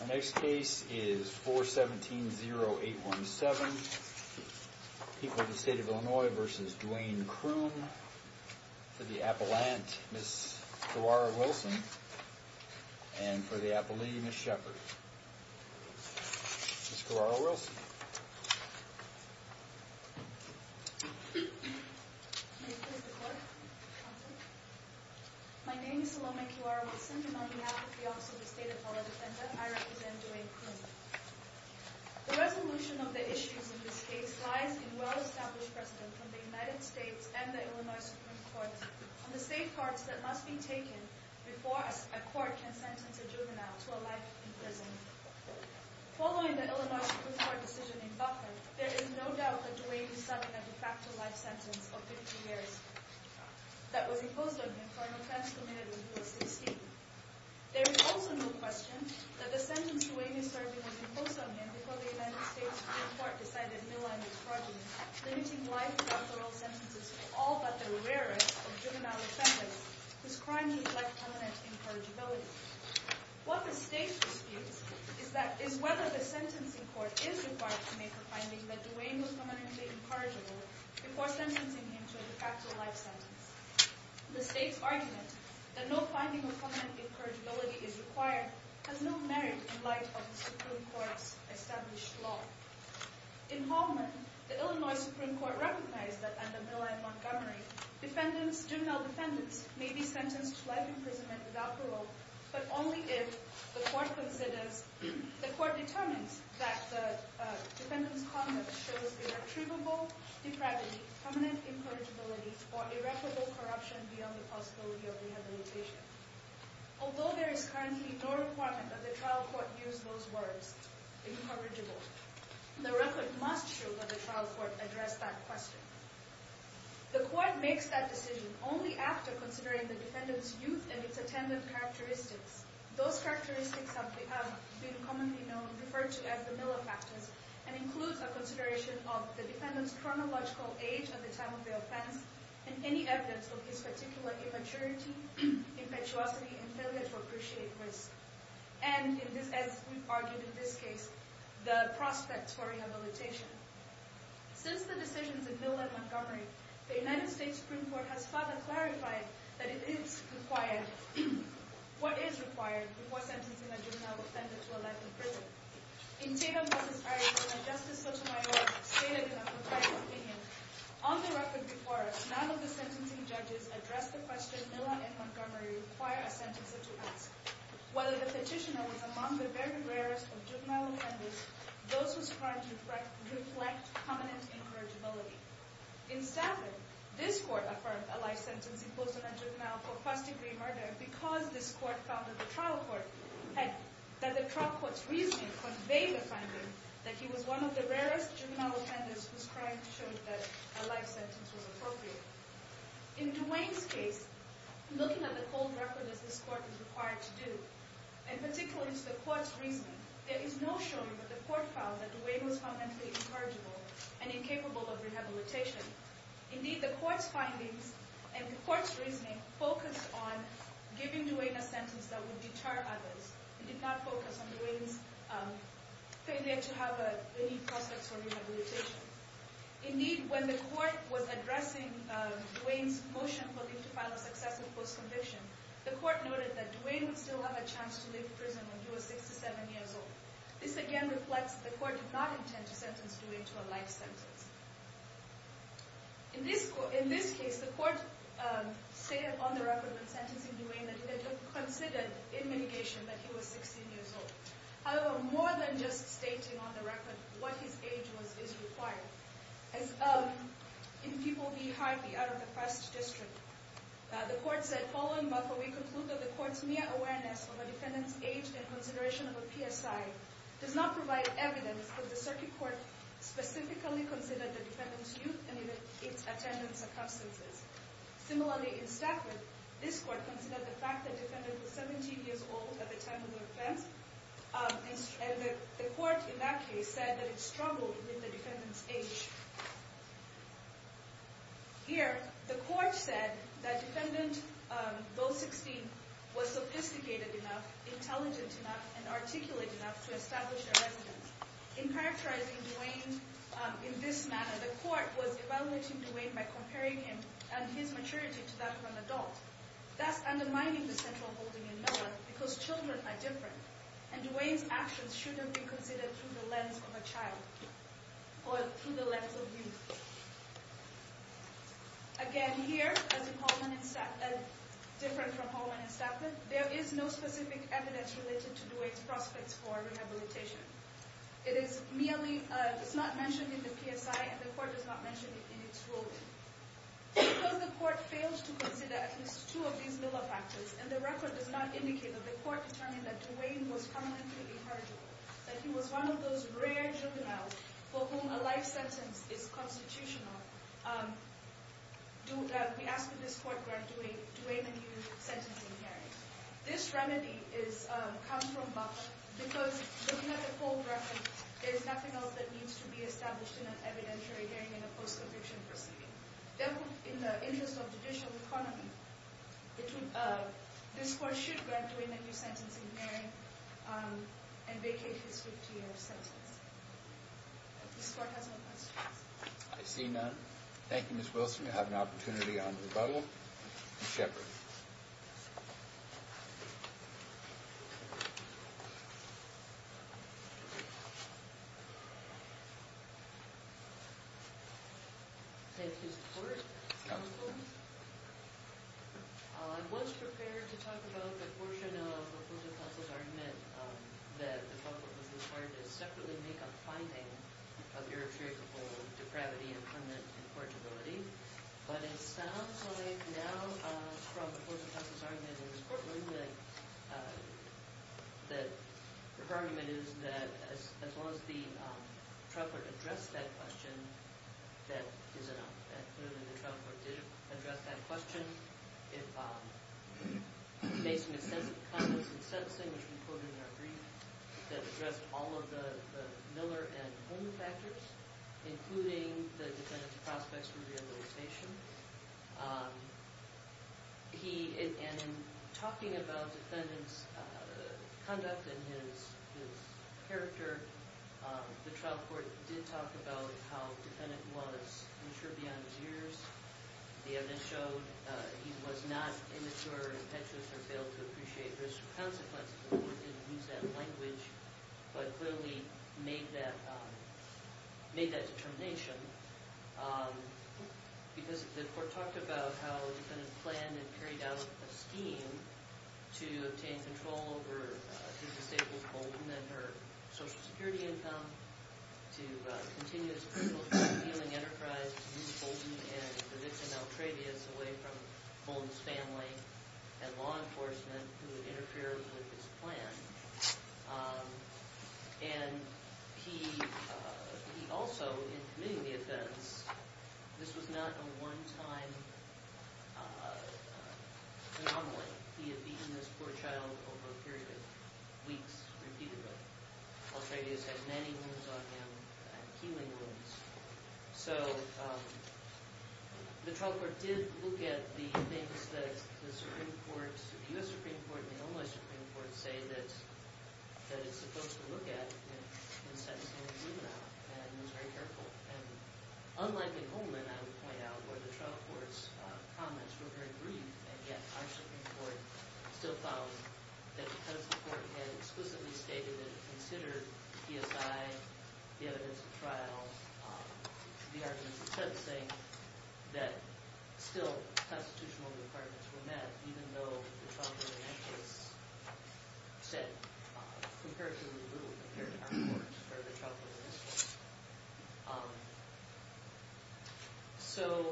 The next case is 417-0817. People of the State of Illinois v. Duane Croom. For the Appellant, Ms. Carrara-Wilson. And for the Appellee, Ms. Shepard. Ms. Carrara-Wilson. Ms. Carrara-Wilson. My name is Salome Carrara-Wilson, and on behalf of the Office of the State Apology Center, I represent Duane Croom. The resolution of the issues in this case lies in well-established precedent from the United States and the Illinois Supreme Court on the safeguards that must be taken before a court can sentence a juvenile to a life in prison. Following the Illinois Supreme Court decision in Buffalo, there is no doubt that Duane is serving a de facto life sentence of 50 years that was imposed on him for an offense committed when he was 16. There is also no question that the sentence Duane is serving was imposed on him before the United States Supreme Court decided a new line of pardoning, limiting life to authorial sentences for all but the rarest of juvenile offenders whose crimes need life-permanent incorrigibility. What the state disputes is whether the sentencing court is required to make a finding that Duane was permanently incorrigible before sentencing him to a de facto life sentence. The state's argument that no finding of permanent incorrigibility is required has no merit in light of the Supreme Court's established law. In Holman, the Illinois Supreme Court recognized that under Miller v. Montgomery, juvenile defendants may be sentenced to life imprisonment without parole but only if the court determines that the defendant's conduct shows irretrievable depravity, permanent incorrigibility, or irreparable corruption beyond the possibility of rehabilitation. Although there is currently no requirement that the trial court use those words, incorrigible, the record must show that the trial court addressed that question. The court makes that decision only after considering the defendant's youth and its attendant characteristics. Those characteristics have been commonly known, referred to as the Miller factors, and includes a consideration of the defendant's chronological age at the time of their offense and any evidence of his particular immaturity, impetuosity, and failure to appreciate risk, and as we've argued in this case, the prospects for rehabilitation. Since the decisions in Miller v. Montgomery, the United States Supreme Court has further clarified that it is required, what is required, before sentencing a juvenile defendant to a life in prison. In Tatum v. Arias, when a Justice Sotomayor stated in a proposed opinion, on the record before us, none of the sentencing judges addressed the question Miller v. Montgomery require a sentencer to ask, whether the petitioner was among the very rarest of juvenile offenders, those whose crimes reflect permanent incorrigibility. In Stafford, this court affirmed a life sentence imposed on a juvenile for first degree murder because this court found that the trial court's reasoning conveyed the finding that he was one of the rarest juvenile offenders whose crimes showed that a life sentence was appropriate. In Dwayne's case, looking at the cold record as this court is required to do, and particularly the court's reasoning, there is no showing that the court found that Dwayne was fundamentally incorrigible and incapable of rehabilitation. Indeed, the court's findings and the court's reasoning focused on giving Dwayne a sentence that would deter others. It did not focus on Dwayne's failure to have any prospects for rehabilitation. Indeed, when the court was addressing Dwayne's motion for him to file a successful post-conviction, the court noted that Dwayne would still have a chance to leave prison when he was 67 years old. This again reflects that the court did not intend to sentence Dwayne to a life sentence. In this case, the court stated on the record when sentencing Dwayne that it had been considered in mitigation that he was 16 years old. However, more than just stating on the record what his age was is required. As in People v. Harvey out of the First District, the court said, Following Markle, we conclude that the court's mere awareness of a defendant's age and consideration of a PSI does not provide evidence that the circuit court specifically considered the defendant's youth and its attendant's circumstances. Similarly, in Stafford, this court considered the fact that the defendant was 17 years old at the time of the offense. The court in that case said that it struggled with the defendant's age. Here, the court said that defendant, though 16, was sophisticated enough, intelligent enough, and articulate enough to establish their evidence. In characterizing Dwayne in this manner, the court was evaluating Dwayne by comparing him and his maturity to that of an adult. Thus undermining the central holding in Miller because children are different, and Dwayne's actions shouldn't be considered through the lens of a child or through the lens of youth. Again, here, as in Hallman v. Stafford, there is no specific evidence related to Dwayne's prospects for rehabilitation. It is not mentioned in the PSI, and the court does not mention it in its ruling. Because the court failed to consider at least two of these Miller factors, and the record does not indicate that the court determined that Dwayne was permanently inheritable, that he was one of those rare juveniles for whom a life sentence is constitutional, we ask that this court grant Dwayne a new sentencing hearing. This remedy comes from Butler, because looking at the full record, there is nothing else that needs to be established in an evidentiary hearing in a post-conviction proceeding. Therefore, in the interest of judicial autonomy, this court should grant Dwayne a new sentencing hearing and vacate his 50-year sentence. If this court has no questions. I see none. Thank you, Ms. Wilson. You have an opportunity on rebuttal. Ms. Shepard. Thank you, Mr. Court. Counsel? I was prepared to talk about the portion of the Court of Counsel's argument that the trial court was required to separately make a finding of irretrievable depravity and permanent incorrigibility. But it sounds like now, from the Court of Counsel's argument in this courtroom, that the argument is that as long as the trial court addressed that question, that is enough. And clearly, the trial court did address that question. If, based on his sense of conduct in sentencing, which we put in our brief, that addressed all of the Miller and Holman factors, including the defendant's prospects for rehabilitation. And in talking about the defendant's conduct and his character, the trial court did talk about how the defendant was mature beyond his years. The evidence showed he was not immature, impetuous, or failed to appreciate risk or consequences. The court didn't use that language, but clearly made that determination. Because the court talked about how the defendant planned and carried out a scheme to obtain control over his disabled husband and her Social Security income, to continue his personal healing enterprise, to move Bolton and the victim, Altrevious, away from Bolton's family and law enforcement, who had interfered with his plan. And he also, in committing the offense, this was not a one-time anomaly. He had beaten this poor child over a period of weeks, repeatedly. Altrevious had many wounds on him, healing wounds. So the trial court did look at the things that the Supreme Court, the U.S. Supreme Court, and the Illinois Supreme Court, say that it's supposed to look at in sentencing. And it was very careful. Unlike in Holman, I would point out, where the trial court's comments were very brief. And yet, our Supreme Court still found that because the court had explicitly stated and considered the PSI, the evidence of trial, the arguments of sentencing, that still constitutional requirements were met, even though the trial court in that case said comparatively little compared to our courts or the trial court in this case. So,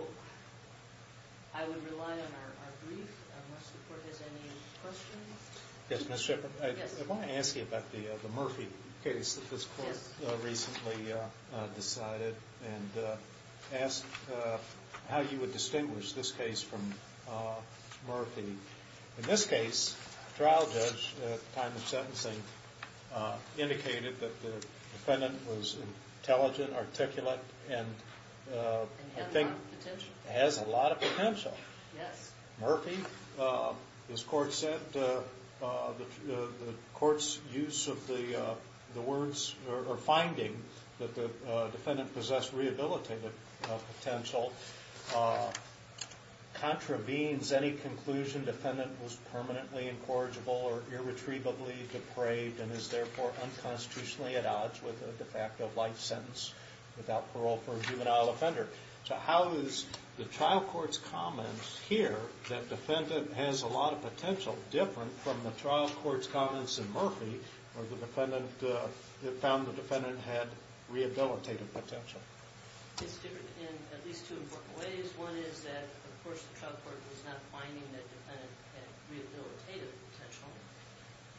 I would rely on our brief. Unless the court has any questions. Yes, Ms. Shepard. Yes. I want to ask you about the Murphy case that this court recently decided. And ask how you would distinguish this case from Murphy. In this case, the trial judge, at the time of sentencing, indicated that the defendant was intelligent, articulate, and I think has a lot of potential. Yes. Murphy, this court said, the court's use of the words, or finding, that the defendant possessed rehabilitative potential, contravenes any conclusion defendant was permanently incorrigible or irretrievably depraved, and is therefore unconstitutionally at odds with the fact of life sentence without parole for a juvenile offender. So, how is the trial court's comment here, that defendant has a lot of potential, different from the trial court's comments in Murphy, where the defendant found the defendant had rehabilitative potential? It's different in at least two important ways. One is that, of course, the trial court was not finding that defendant had rehabilitative potential.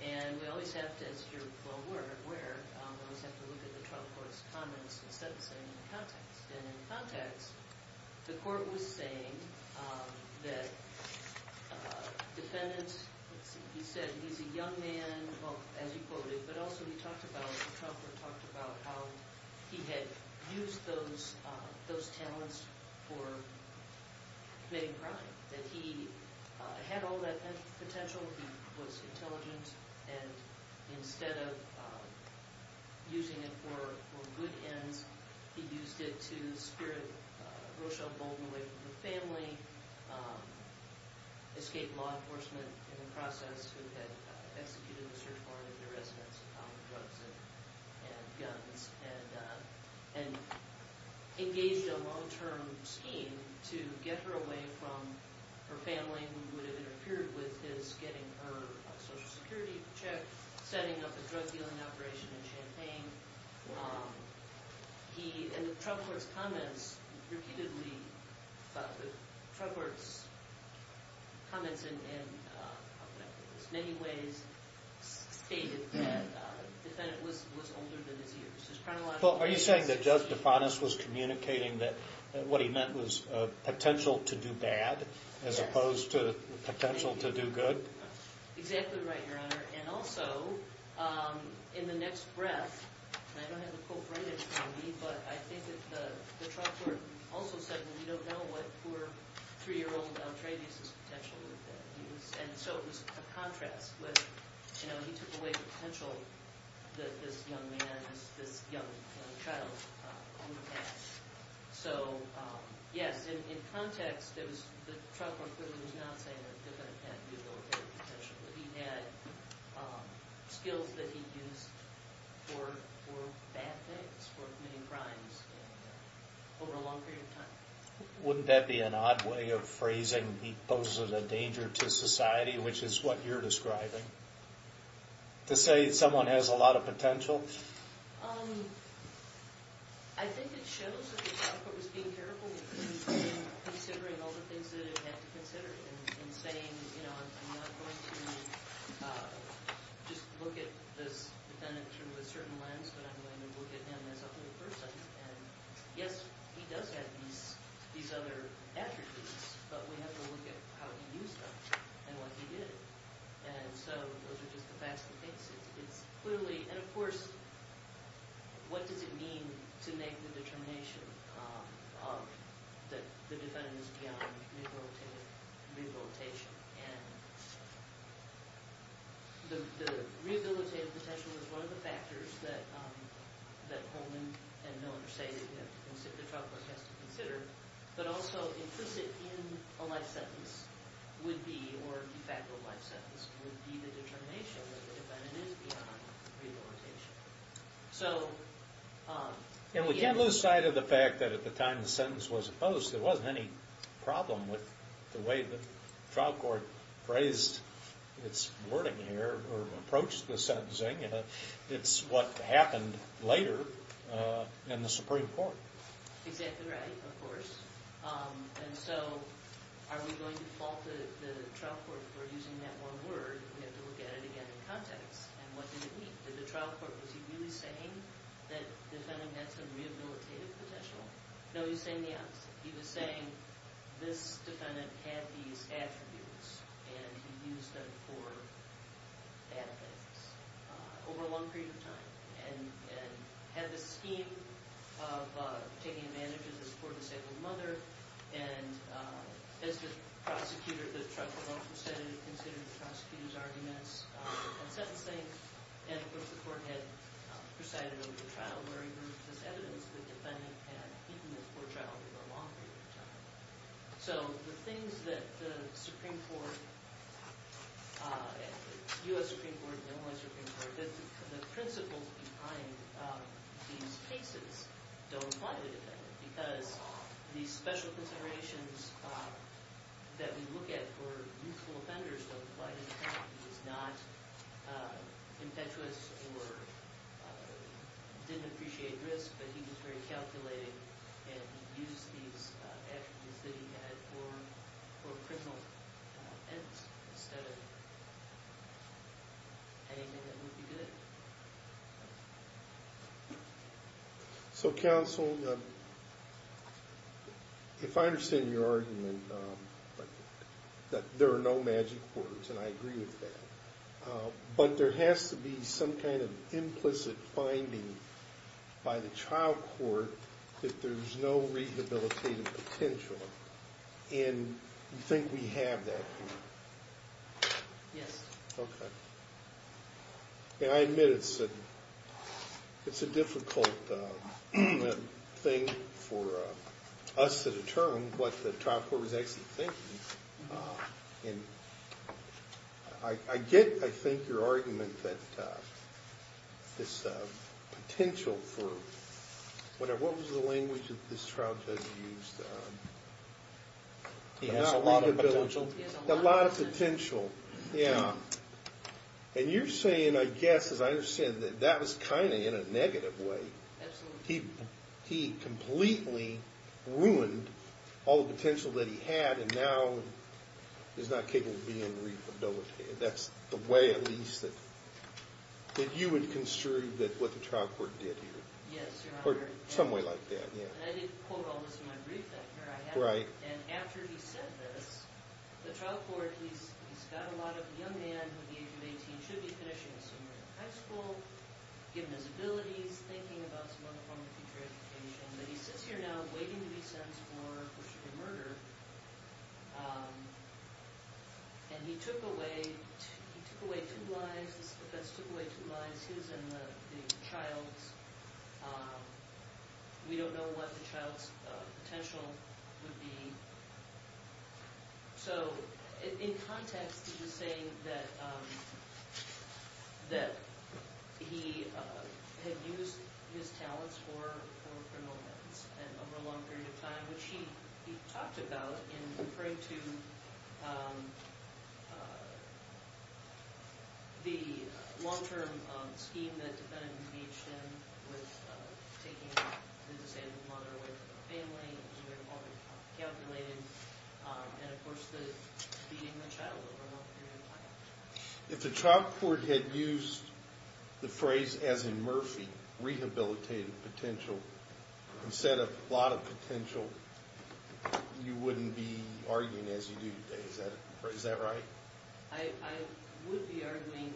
And we always have to, as you're well aware, always have to look at the trial court's comments in sentencing in the context. And in context, the court was saying that defendant, let's see, he said he's a young man, well, as you quoted, but also he talked about, the trial court talked about how he had used those talents for main crime, that he had all that potential, he was intelligent, and instead of using it for good ends, he used it to spirit Rochelle Bolden away from the family, escape law enforcement in the process, who had executed a search warrant of the residence and found the drugs and guns, and engaged a long-term scheme to get her away from her family, who would have interfered with his getting her Social Security check, setting up a drug dealing operation in Champaign. And the trial court's comments repeatedly, the trial court's comments in many ways stated that the defendant was older than his years. Well, are you saying that Judge DeFantis was communicating that what he meant was potential to do bad, as opposed to potential to do good? Exactly right, Your Honor. And also, in the next breath, and I don't have the quote right in front of me, but I think that the trial court also said that we don't know what poor three-year-old D'Entrevis' potential was. And so it was a contrast with, you know, he took away the potential that this young man, this young child, had. So, yes, in context, the trial court clearly was not saying that the defendant had mediocre potential, but he had skills that he used for bad things, for committing crimes, over a long period of time. Wouldn't that be an odd way of phrasing he poses a danger to society, which is what you're describing? To say someone has a lot of potential? I think it shows that the trial court was being careful in considering all the things that it had to consider, in saying, you know, I'm not going to just look at this defendant through a certain lens, but I'm going to look at him as a whole person. And, yes, he does have these other attributes, but we have to look at how he used them and what he did. And so those are just the facts of the case. And, of course, what does it mean to make the determination that the defendant is beyond rehabilitation? And the rehabilitative potential is one of the factors that Holman and Milner say that the trial court has to consider, but also implicit in a life sentence would be, or de facto life sentence, would be the determination that the defendant is beyond rehabilitation. And we can't lose sight of the fact that at the time the sentence was opposed, there wasn't any problem with the way the trial court phrased its wording here, or approached the sentencing. It's what happened later in the Supreme Court. Exactly right, of course. And so are we going to fault the trial court for using that one word? We have to look at it again in context. And what did it mean? Did the trial court, was he really saying that the defendant had some rehabilitative potential? No, he was saying the opposite. He was saying this defendant had these attributes and he used them for bad things over a long period of time and had this scheme of taking advantage of his poor, disabled mother. And as the prosecutor, the trial court also said it had considered the prosecutor's arguments on sentencing. And, of course, the court had presided over the trial, where he proved this evidence that the defendant had beaten the poor child over a long period of time. So the things that the Supreme Court, U.S. Supreme Court, Illinois Supreme Court, the principles behind these cases don't apply to the defendant because these special considerations that we look at for youthful offenders don't apply to the defendant. He was not impetuous or didn't appreciate risk, but he was very calculated and used these attributes that he had for criminal ends instead of anything that would be good. So, counsel, if I understand your argument that there are no magic words, and I agree with that, but there has to be some kind of implicit finding by the trial court that there's no rehabilitative potential. And you think we have that here? Yes. Okay. And I admit it's a difficult thing for us to determine what the trial court was actually thinking. And I get, I think, your argument that this potential for, what was the language that this trial judge used? He has a lot of potential. A lot of potential, yeah. And you're saying, I guess, as I understand, that that was kind of in a negative way. Absolutely. He completely ruined all the potential that he had, and now is not capable of being rehabilitated. That's the way, at least, that you would construe what the trial court did here. Yes, Your Honor. Or some way like that, yeah. And I did quote all this in my brief back here. Right. And after he said this, the trial court, he's got a lot of young men who are the age of 18 and should be finishing high school, given his abilities, thinking about some other forms of future education. But he sits here now waiting to be sentenced for murder. And he took away two lives. The defense took away two lives, his and the child's. We don't know what the child's potential would be. So in context, he's saying that he had used his talents for criminal events over a long period of time, which he talked about in referring to the long-term scheme that the defendant engaged in with taking his and his mother away from the family and keeping it all calculated, and, of course, beating the child over a long period of time. If the trial court had used the phrase, as in Murphy, rehabilitative potential, instead of a lot of potential, you wouldn't be arguing as you do today. Is that right? I would be arguing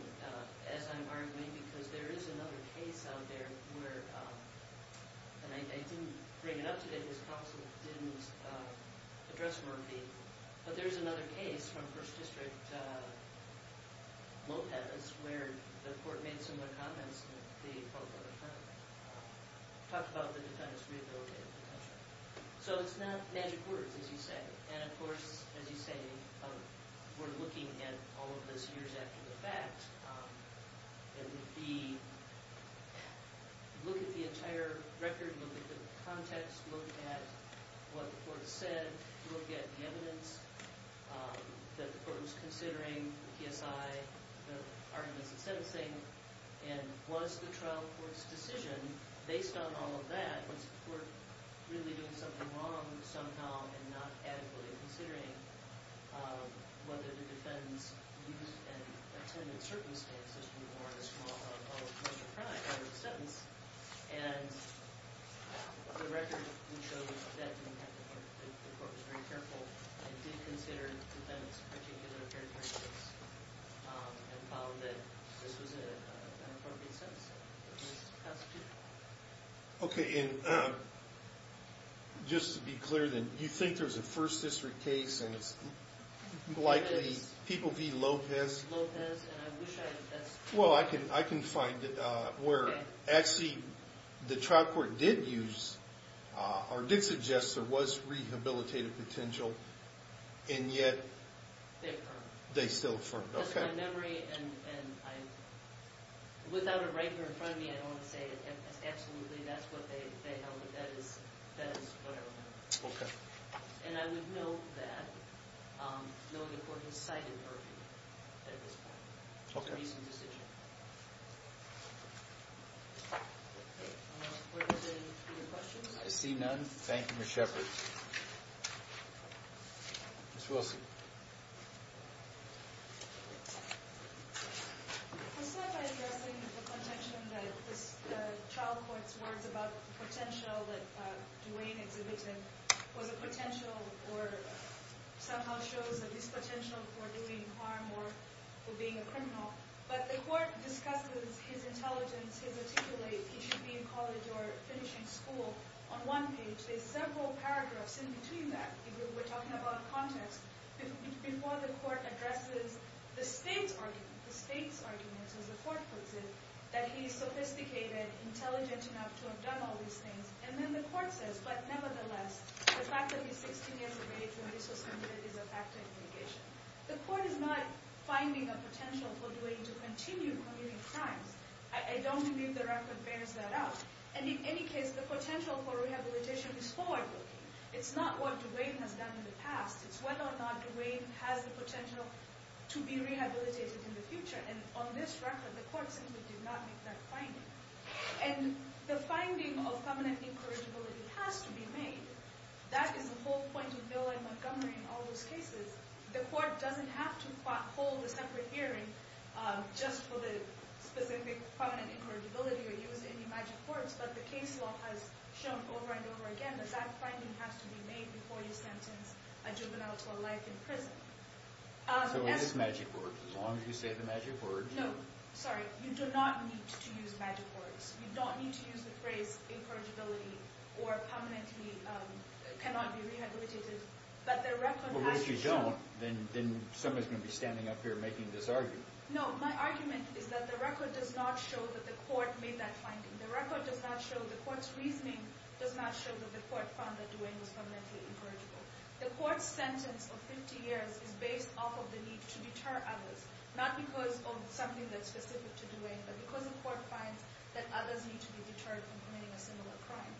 as I'm arguing because there is another case out there where, and I didn't bring it up today because counsel didn't address Murphy, but there's another case from First District Lopez where the court made similar comments to the folk on the front, talked about the defendant's rehabilitative potential. So it's not magic words, as you say. And, of course, as you say, we're looking at all of this years after the fact. Look at the entire record. Look at the context. Look at what the court said. Look at the evidence that the court was considering, the PSI, the arguments in sentencing. And was the trial court's decision, based on all of that, was the court really doing something wrong somehow and not adequately considering whether the defendant's youth and attendance circumstances were a small part of the crime under the sentence? And the record would show that the court was very careful and did consider the defendant's particular characteristics and found that this was an appropriate sentencing. It was constitutional. Okay, and just to be clear then, you think there's a First District case and it's likely people v. Lopez? Lopez, and I wish I had a test. Well, I can find where actually the trial court did use or did suggest there was rehabilitative potential, and yet... They affirmed. They still affirmed, okay. It's just my memory, and without it right here in front of me, I don't want to say absolutely that's what they held, but that is what I remember. Okay. And I would note that, knowing the court has cited Murphy at this point. Okay. I see none. Thank you, Ms. Shepard. Ms. Wilson. It was said by addressing the contention that the trial court's words about the potential that Duane exhibited was a potential or somehow shows a dispotential for doing harm or for being a criminal, but the court discusses his intelligence, his articulate, he should be in college or finishing school, on one page. There's several paragraphs in between that. We're talking about context. Before the court addresses the state's argument, as the court puts it, that he's sophisticated, intelligent enough to have done all these things, and then the court says, but nevertheless, the fact that he's 16 years away from resource center is a factor in negation. The court is not finding a potential for Duane to continue committing crimes. I don't believe the record bears that out. And in any case, the potential for rehabilitation is forward-looking. It's not what Duane has done in the past. It's whether or not Duane has the potential to be rehabilitated in the future. And on this record, the court simply did not make that finding. And the finding of feminine incorrigibility has to be made. That is the whole point of Bill and Montgomery in all those cases. The court doesn't have to hold a separate hearing just for the specific feminine incorrigibility or use any magic words, but the case law has shown over and over again that that finding has to be made before you sentence a juvenile to a life in prison. So it is magic words, as long as you say the magic words. No. Sorry. You do not need to use magic words. You don't need to use the phrase incorrigibility or permanently cannot be rehabilitated. But the record actually shows... Well, if you don't, then somebody's going to be standing up here making this argument. No. My argument is that the record does not show that the court made that finding. The record does not show, the court's reasoning does not show that the court found that Dwayne was femininely incorrigible. The court's sentence of 50 years is based off of the need to deter others, not because of something that's specific to Dwayne, but because the court finds that others need to be deterred from committing a similar crime.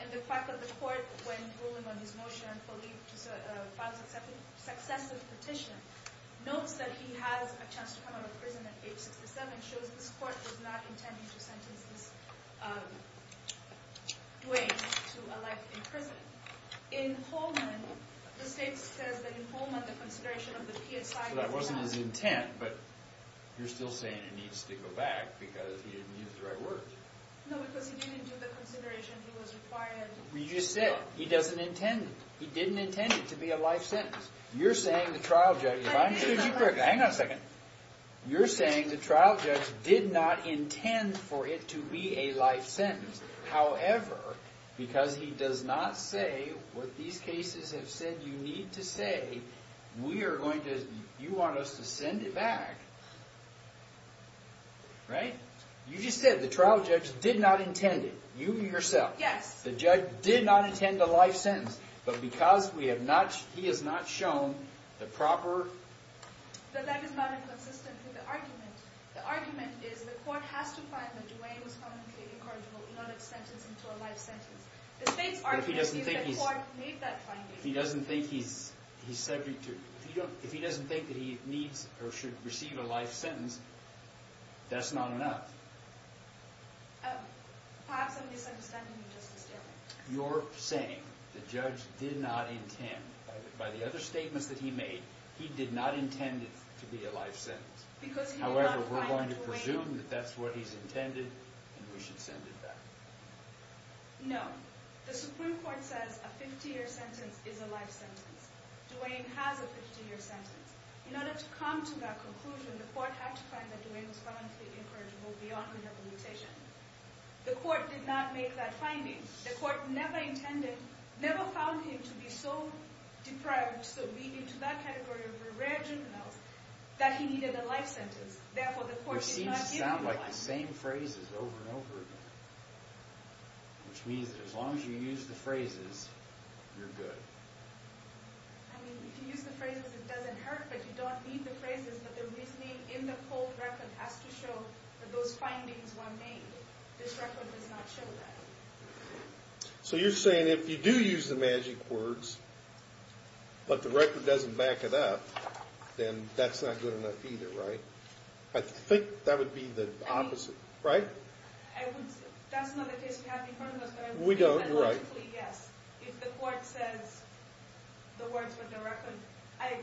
And the fact that the court, when ruling on his motion, found successive petition notes that he has a chance to come out of prison at age 67 and shows this court was not intending to sentence this Dwayne to a life in prison. In Holman, the state says that in Holman the consideration of the PSI... So that wasn't his intent, but you're still saying it needs to go back because he didn't use the right words. No, because he didn't do the consideration he was required... Well, you just said it. He doesn't intend it. He didn't intend it to be a life sentence. You're saying the trial judge... If I understood you correctly... Hang on a second. You're saying the trial judge did not intend for it to be a life sentence. However, because he does not say what these cases have said you need to say, we are going to... You want us to send it back. Right? You just said the trial judge did not intend it. You yourself. Yes. The judge did not intend a life sentence. But because we have not... He has not shown the proper... But that is not inconsistent with the argument. The argument is the court has to find that Dwayne was found to be incorrigible. He got a sentence into a life sentence. The state's argument is the court made that finding. He doesn't think he's subject to... If he doesn't think that he needs or should receive a life sentence, that's not enough. Perhaps I'm misunderstanding you, Justice Taylor. You're saying the judge did not intend. By the other statements that he made, he did not intend it to be a life sentence. However, we're going to presume that that's what he's intended and we should send it back. No. The Supreme Court says a 50-year sentence is a life sentence. Dwayne has a 50-year sentence. In order to come to that conclusion, the court had to find that Dwayne was found to be incorrigible beyond rehabilitation. The court did not make that finding. The court never intended, never found him to be so deprived, so weak into that category of a rare juvenile that he needed a life sentence. Therefore, the court did not... It seems to sound like the same phrases over and over again. Which means that as long as you use the phrases, you're good. I mean, if you use the phrases, it doesn't hurt, but you don't need the phrases. But the reasoning in the cold record has to show that those findings were made. This record does not show that. So you're saying if you do use the magic words, but the record doesn't back it up, then that's not good enough either, right? I think that would be the opposite, right? That's not the case we have in front of us. We don't, you're right. If the court says the words with the record, I'm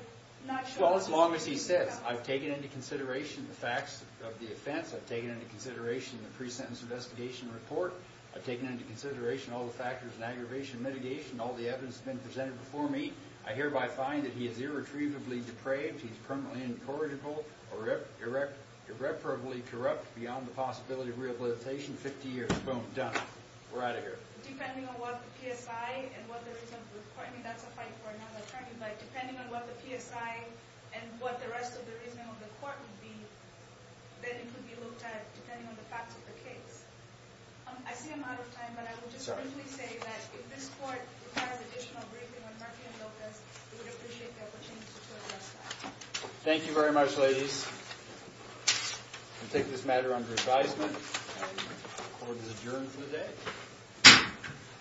not sure... Well, as long as he says, I've taken into consideration the facts of the offense, I've taken into consideration the pre-sentence investigation report, I've taken into consideration all the factors in aggravation mitigation, all the evidence that's been presented before me, I hereby find that he is irretrievably depraved, he's permanently incorrigible, irreparably corrupt beyond the possibility of rehabilitation, 50 years, boom, done. We're out of here. Depending on what the PSI and what the reasoning of the court, and that's a fight for another attorney, but depending on what the PSI and what the rest of the reasoning of the court would be, then it could be looked at depending on the facts of the case. I see I'm out of time, but I will just briefly say that if this court requires additional briefing with Marky and Locas, we would appreciate the opportunity to address that. Thank you very much, ladies. We'll take this matter under advisement. The court is adjourned for the day.